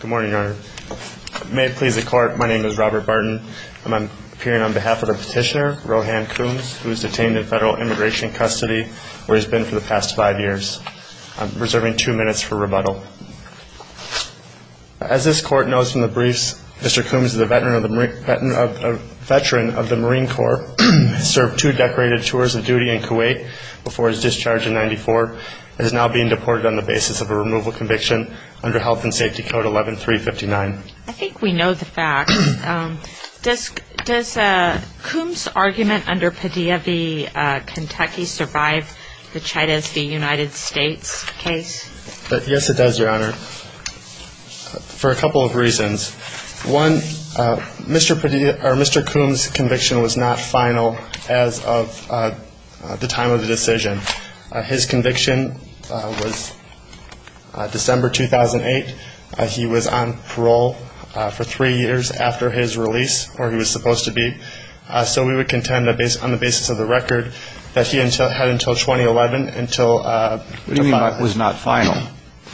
Good morning, Your Honor. May it please the Court, my name is Robert Barton. I'm appearing on behalf of the petitioner, Rohan Coombs, who was detained in federal immigration custody where he's been for the past five years. I'm reserving two minutes for rebuttal. As this Court knows from the briefs, Mr. Coombs is a veteran of the Marine Corps, served two decorated tours of duty in Kuwait before his discharge in 1994, and is now being deported on the basis of a removal conviction under Health and Safety Code 11-359. I think we know the facts. Does Coombs' argument under Padilla v. Kentucky survive the Chattis v. United States case? Yes, it does, Your Honor, for a couple of reasons. One, Mr. Coombs' conviction was not final as of the time of the decision. His conviction was December 2008. He was on parole for three years after his release, where he was supposed to be. So we would contend that, on the basis of the record, that he had until 2011, until the final. What do you mean by it was not final?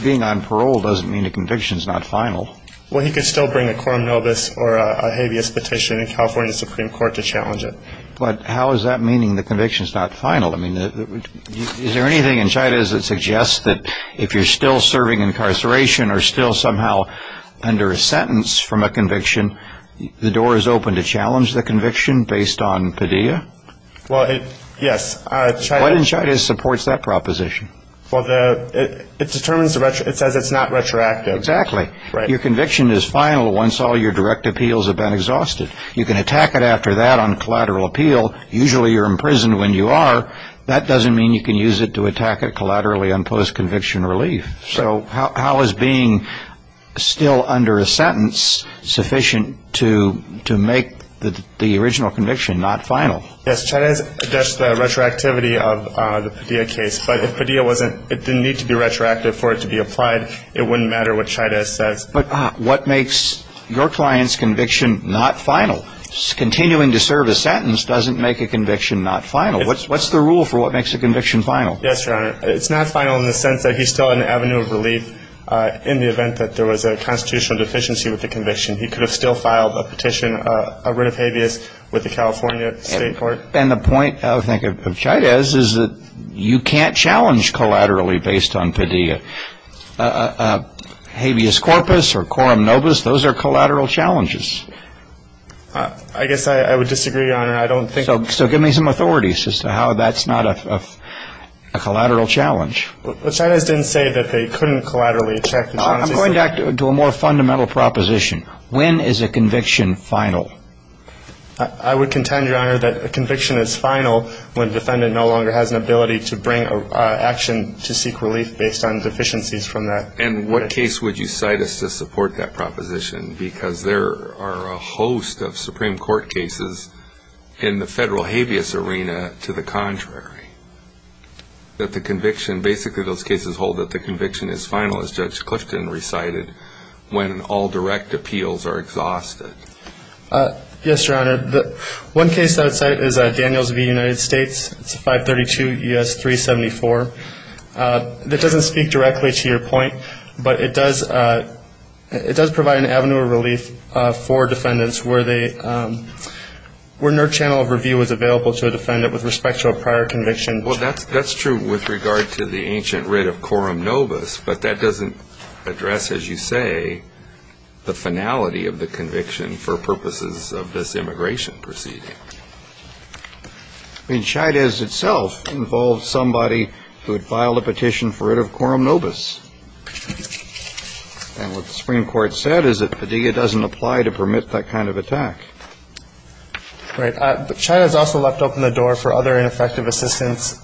Being on parole doesn't mean a conviction is not final. Well, he could still bring a quorum novus or a habeas petition in California Supreme Court to challenge it. But how is that meaning the conviction is not final? I mean, is there anything in Chattis that suggests that if you're still serving incarceration or still somehow under a sentence from a conviction, the door is open to challenge the conviction based on Padilla? Well, yes. What in Chattis supports that proposition? It says it's not retroactive. Exactly. Your conviction is final once all your direct appeals have been exhausted. You can attack it after that on collateral appeal. Usually you're imprisoned when you are. That doesn't mean you can use it to attack it collaterally on post-conviction relief. So how is being still under a sentence sufficient to make the original conviction not final? Yes, Chattis, that's the retroactivity of the Padilla case. But if Padilla wasn't – it didn't need to be retroactive for it to be applied, it wouldn't matter what makes your client's conviction not final. Continuing to serve a sentence doesn't make a conviction not final. What's the rule for what makes a conviction final? Yes, Your Honor. It's not final in the sense that he's still on the avenue of relief in the event that there was a constitutional deficiency with the conviction. He could have still filed a petition, a writ of habeas, with the California State Court. And the point, I think, of Chattis is that you can't challenge collaterally based on Padilla. Habeas corpus or quorum nobis, those are collateral challenges. I guess I would disagree, Your Honor. I don't think – So give me some authorities as to how that's not a collateral challenge. Chattis didn't say that they couldn't collaterally attack the – I'm going back to a more fundamental proposition. When is a conviction final? I would contend, Your Honor, it no longer has an ability to bring action to seek relief based on deficiencies from that. And what case would you cite as to support that proposition? Because there are a host of Supreme Court cases in the federal habeas arena to the contrary. That the conviction – basically those cases hold that the conviction is final, as Judge Clifton recited, when all direct appeals are exhausted. Yes, Your Honor. One case I would cite is Daniels v. United States, 532 U.S. 374. That doesn't speak directly to your point, but it does provide an avenue of relief for defendants where they – where no channel of review is available to a defendant with respect to a prior conviction. Well, that's true with regard to the ancient writ of quorum nobis, but that doesn't address, as you say, the finality of the conviction for purposes of this immigration proceeding. I mean, Chaidez itself involved somebody who had filed a petition for writ of quorum nobis. And what the Supreme Court said is that Padilla doesn't apply to permit that kind of attack. Right. But Chaidez also left open the door for other ineffective assistance,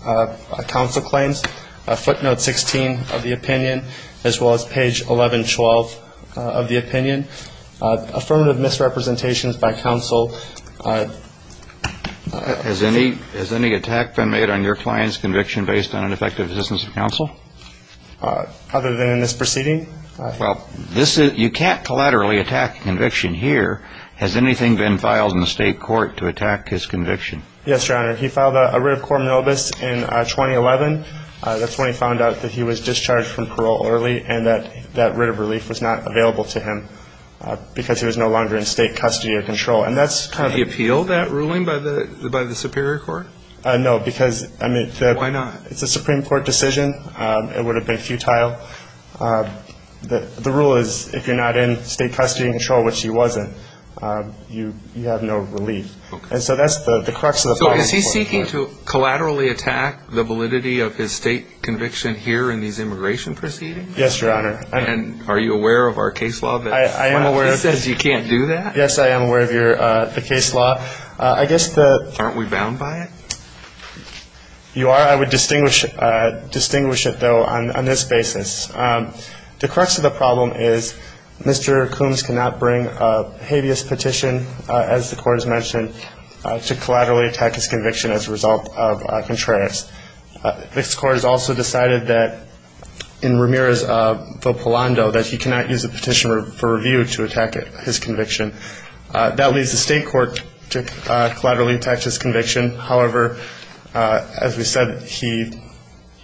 counsel claims, footnote 16 of the opinion, as well as page 1112 of the opinion. Affirmative misrepresentations by counsel. Has any – has any attack been made on your client's conviction based on ineffective assistance of counsel? Other than in this proceeding? Well, this is – you can't collaterally attack a conviction here. Has anything been filed in the state court to attack his conviction? Yes, Your Honor. He filed a writ of quorum nobis in 2011. That's when he found out that he was that writ of relief was not available to him because he was no longer in state custody or control. And that's kind of – Could he appeal that ruling by the – by the Superior Court? No, because, I mean, the – Why not? It's a Supreme Court decision. It would have been futile. The rule is if you're not in state custody and control, which he wasn't, you have no relief. Okay. And so that's the crux of the problem. So is he seeking to collaterally attack the validity of his state conviction here in these immigration proceedings? Yes, Your Honor. And are you aware of our case law that says you can't do that? Yes, I am aware of your – the case law. I guess the – Aren't we bound by it? You are. I would distinguish – distinguish it, though, on this basis. The crux of the problem is Mr. Coombs cannot bring a habeas petition, as the court has mentioned, to collaterally attack his conviction as a result of contracts. This court has also decided that in Ramirez v. Polando that he cannot use a petition for review to attack his conviction. That leaves the state court to collaterally attack his conviction. However, as we said, he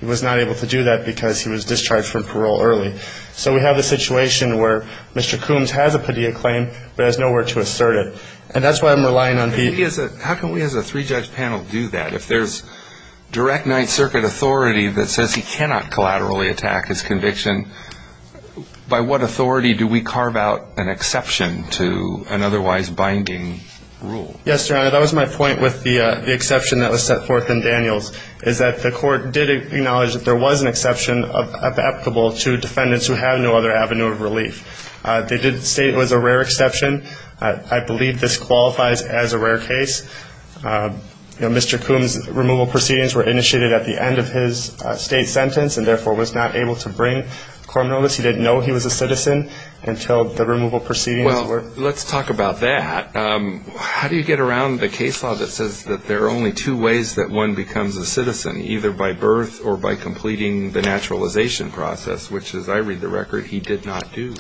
was not able to do that because he was discharged from parole early. So we have a situation where Mr. Coombs has a Padilla claim, but has nowhere to assert it. And that's why I'm relying on – How can we as a three-judge panel do that? If there's direct Ninth Circuit authority that says he cannot collaterally attack his conviction, by what authority do we carve out an exception to an otherwise binding rule? Yes, Your Honor. That was my point with the exception that was set forth in Daniels, is that the court did acknowledge that there was an exception applicable to defendants who have no other avenue of relief. They did say it was a rare exception. I believe this qualifies as a rare case. Mr. Coombs' removal proceedings were initiated at the end of his state sentence and therefore was not able to bring Coram Novus. He didn't know he was a citizen until the removal proceedings were – Well, let's talk about that. How do you get around the case law that says that there are only two ways that one becomes a citizen, either by birth or by completing the naturalization process, which as I read the record, he did not do?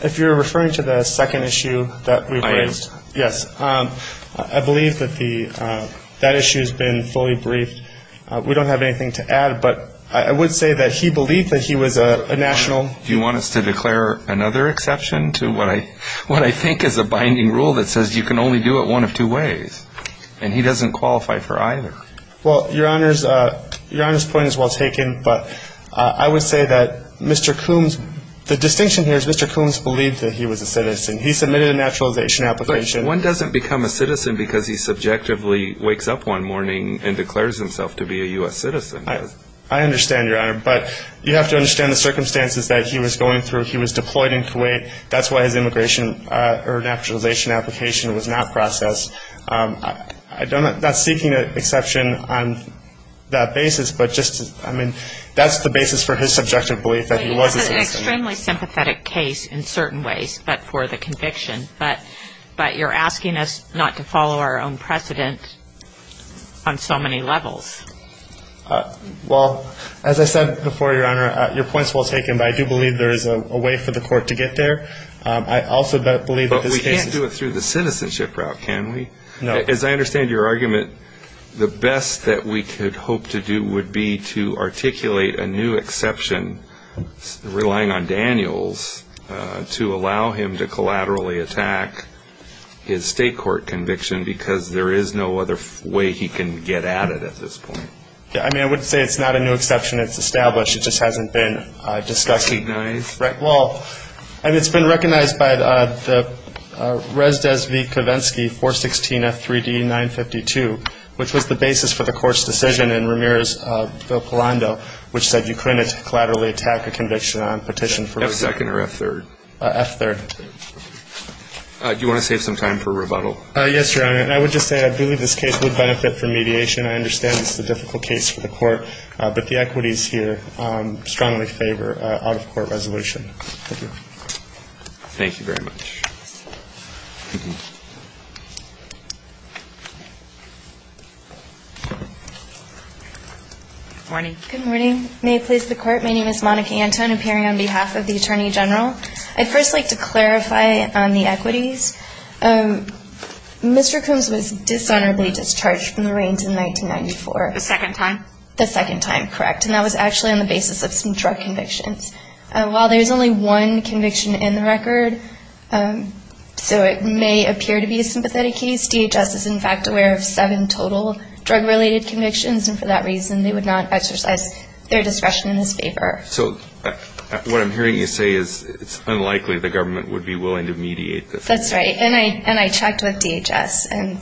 If you're referring to the second issue that we've raised – I am. Yes. I believe that the – that issue has been fully briefed. We don't have anything to add, but I would say that he believed that he was a national – Do you want us to declare another exception to what I think is a binding rule that says you can only do it one of two ways? And he doesn't qualify for either. Well, Your Honor's point is well taken, but I would say that Mr. Coombs – the distinction here is Mr. Coombs believed that he was a citizen. He submitted a naturalization application. But one doesn't become a citizen because he subjectively wakes up one morning and declares himself to be a U.S. citizen. I understand, Your Honor, but you have to understand the circumstances that he was going through. He was deployed in Kuwait. That's why his immigration or naturalization application was not processed. I'm not seeking an exception on that basis, but just – I mean, that's the basis for his subjective belief that he was a citizen. But he has an extremely sympathetic case in certain ways, but for the conviction. But you're asking us not to follow our own precedent on so many levels. Well, as I said before, Your Honor, your point's well taken, but I do believe there is a way for the court to get there. I also believe that this case is – But we can't do it through the citizenship route, can we? No. As I understand your argument, the best that we could hope to do would be to articulate a new exception, relying on Daniels, to allow him to collaterally attack his state court conviction because there is no other way he can get at it at this point. Yeah, I mean, I wouldn't say it's not a new exception. It's established. It just hasn't been discussed. Recognized? Right. Well, I mean, it's been recognized by the Resdes v. Kavinsky 416F3D952, which was the basis for the court's decision in Ramirez v. Polando, which said you couldn't collaterally attack a conviction on petition for – F2nd or F3rd? F3rd. Do you want to save some time for rebuttal? Yes, Your Honor. And I would just say I believe this case would benefit from mediation. I understand it's a difficult case for the court, but the equities here strongly favor out-of-court resolution. Thank you. Thank you very much. Good morning. Good morning. May it please the Court, my name is Monica Anton, appearing on behalf of the Attorney General. I'd first like to clarify on the equities. Mr. Coombs was dishonorably discharged from the reins in 1994. The second time? The second time, correct. And that was actually on the basis of some drug convictions. While there's only one conviction in the record, so it may appear to be a sympathetic case, DHS is in fact aware of seven total drug-related convictions, and for that reason they would not exercise their discretion in this favor. So what I'm hearing you say is it's unlikely the government would be willing to mediate this case. That's right. And I checked with DHS, and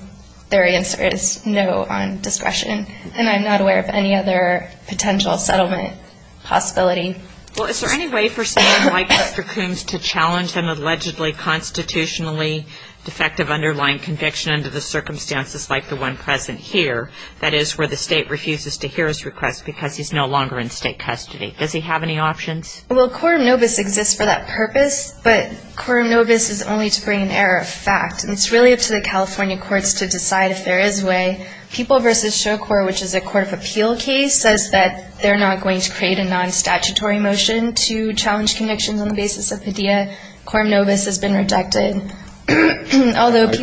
their answer is no on discretion. And I'm not aware of any other potential settlement possibility. Is there any way for someone like Mr. Coombs to challenge an allegedly constitutionally defective underlying conviction under the circumstances like the one present here, that is, where the state refuses to hear his request because he's no longer in state custody? Does he have any options? Well, quorum nobis exists for that purpose, but quorum nobis is only to bring an error of fact. And it's really up to the California courts to decide if there is a way. People v. Shocor, which is a court of appeal case, says that they're not going to create a non-statutory motion to challenge convictions on the basis of pedia. Quorum nobis has been rejected. I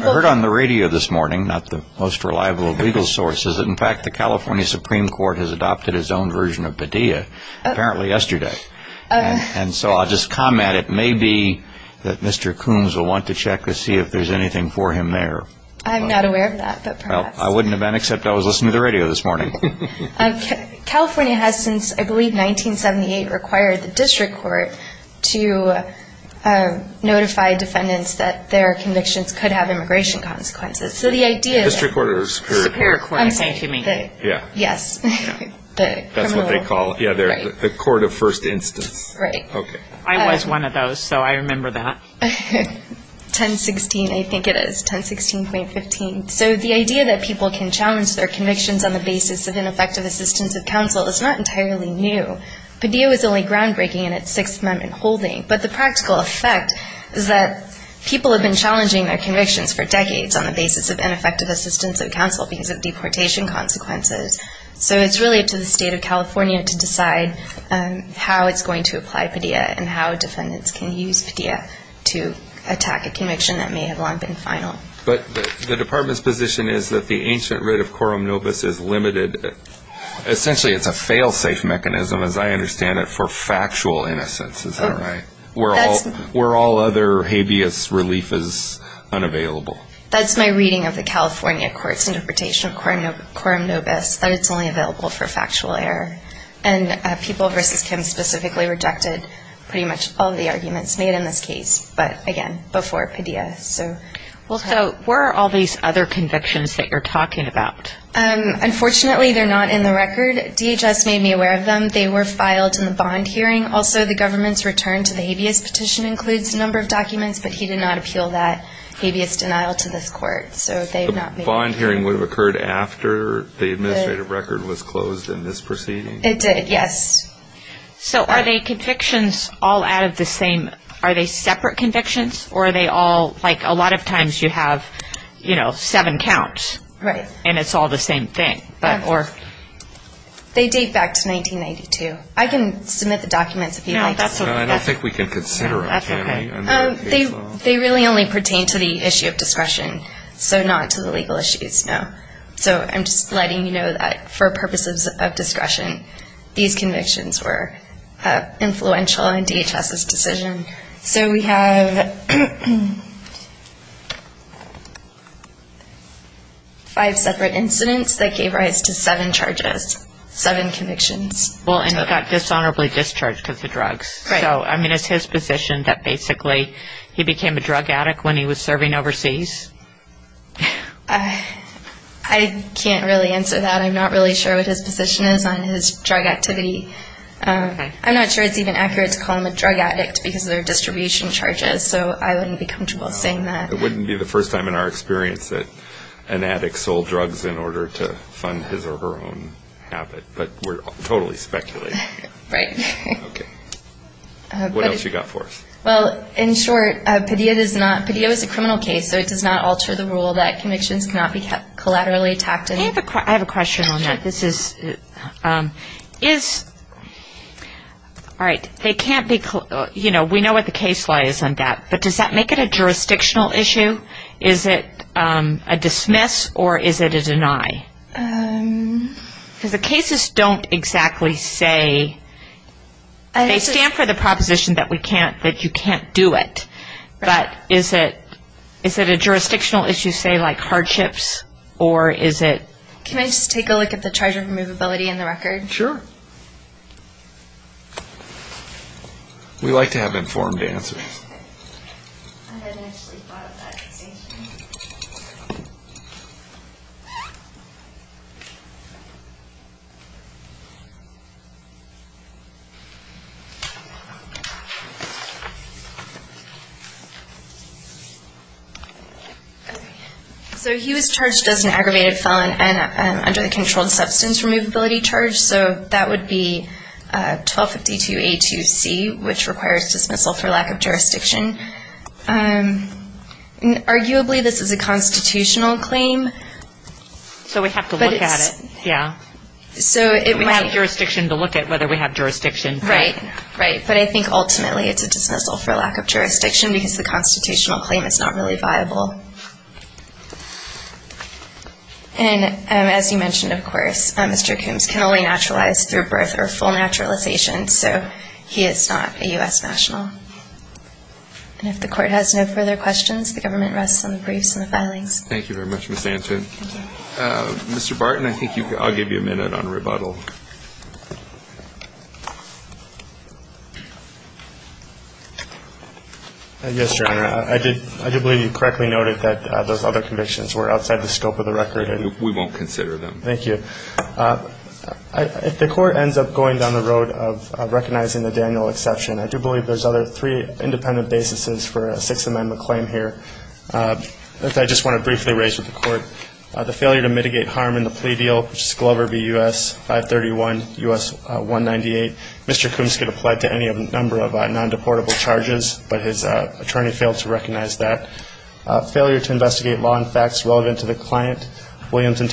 heard on the radio this morning, not the most reliable of legal sources, that in fact the California Supreme Court has adopted its own version of pedia, apparently yesterday. And so I'll just comment, it may be that Mr. Coombs will want to check to see if there's anything for him there. I'm not aware of that, but perhaps. Well, I wouldn't have been except I was listening to the radio this morning. California has since, I believe, 1978 required the District Court to notify defendants that their convictions could have immigration consequences. District Court or Superior Court? Superior Court, I think you mean. Yes. That's what they call the court of first instance. Right. I was one of those, so I remember that. 1016, I think it is. 1016.15. So the idea that people can challenge their convictions on the basis of ineffective assistance of counsel is not entirely new. Pedia was only groundbreaking in its Sixth Amendment holding. But the practical effect is that people have been challenging their convictions for decades on the basis of ineffective assistance of counsel because of deportation consequences. So it's really up to the State of California to decide how it's going to apply pedia and how defendants can use pedia to attack a conviction that may have long been final. But the Department's position is that the ancient writ of quorum nobis is limited. Essentially, it's a fail-safe mechanism, as I understand it, for factual innocence. Is that right? Where all other habeas relief is unavailable. That's my reading of the California court's interpretation of quorum nobis, that it's only available for factual error. And People v. Kim specifically rejected pretty much all the arguments made in this case. But again, before pedia. So where are all these other convictions that you're talking about? Unfortunately, they're not in the record. DHS made me aware of them. They were filed in the bond hearing. Also, the government's return to the habeas petition includes a number of documents. But he did not appeal that habeas denial to this court. So the bond hearing would have occurred after the administrative record was closed in this proceeding? It did, yes. So are they convictions all out of the same? Are they separate convictions? Or are they all, like, a lot of times you have, you know, seven counts. Right. And it's all the same thing? They date back to 1992. I can submit the documents if you'd like. No, I don't think we can consider it. They really only pertain to the issue of discretion. So not to the legal issues, no. So I'm just letting you know that for purposes of discretion, these convictions were influential in DHS's decision. So we have five separate incidents that gave rise to seven charges, seven convictions. Well, and he got dishonorably discharged of the drugs. Right. So, I mean, it's his position that basically he became a drug addict when he was serving overseas? I can't really answer that. I'm not really sure what his position is on his drug activity. I'm not sure it's even accurate to call him a drug addict because of their distribution charges. So I wouldn't be comfortable saying that. It wouldn't be the first time in our experience that an addict sold drugs in order to fund his or her own habit. But we're totally speculating. Right. Okay. What else you got for us? Well, in short, Padilla is a criminal case, so it does not alter the rule that convictions cannot be collaterally attacked. I have a question on that. We know what the case law is on that, but does that make it a jurisdictional issue? Is it a dismiss or is it a deny? Because the cases don't exactly say They stand for the proposition that you can't do it. Right. But is it a jurisdictional issue, say, like hardships? Can I just take a look at the charge of removability in the record? Sure. We like to have informed answers. Okay. I hadn't actually thought of that decision. So he was charged as an aggravated felon under the controlled substance removability charge. So that would be 1252A2C, which requires dismissal for lack of jurisdiction. Arguably, this is a constitutional claim. So we have to look at it. Okay. Right. But I think ultimately it's a dismissal for lack of jurisdiction because the constitutional claim is not really viable. And as you mentioned, of course, Mr. Coombs can only naturalize through birth or full naturalization. So he is not a U.S. national. And if the court has no further questions, the government rests on the briefs and the filings. Thank you very much, Ms. Anton. Mr. Barton, I think I'll give you a minute on rebuttal. Yes, Your Honor. I do believe you correctly noted that those other convictions were outside the scope of the record. We won't consider them. Thank you. If the court ends up going down the road of recognizing the Daniel exception, I do believe there's other three independent basis for a Sixth Amendment claim here that I just want to briefly raise with the court. The failure to mitigate harm in the plea deal, which is Glover v. U.S. 531 U.S. 198. Mr. Coombs could apply it to any number of non-deportable charges, but his attorney failed to recognize that. Failure to investigate law and facts relevant to the client, Williams v.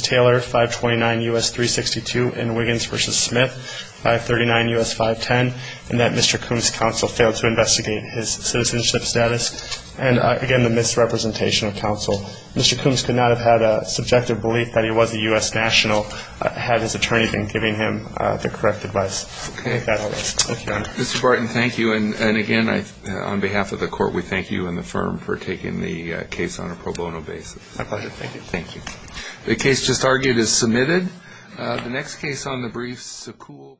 Taylor 529 U.S. 362 and Wiggins v. Smith 539 U.S. 510 and that Mr. Coombs' counsel failed to investigate his citizenship status and, again, the misrepresentation of counsel. Mr. Coombs could not have had a subjective belief that he was a U.S. national had his attorney been giving him the correct advice. Mr. Barton, thank you. And again, on behalf of the court, we thank you and the firm for taking the case on a pro bono basis. My pleasure. Thank you. The case just argued is submitted.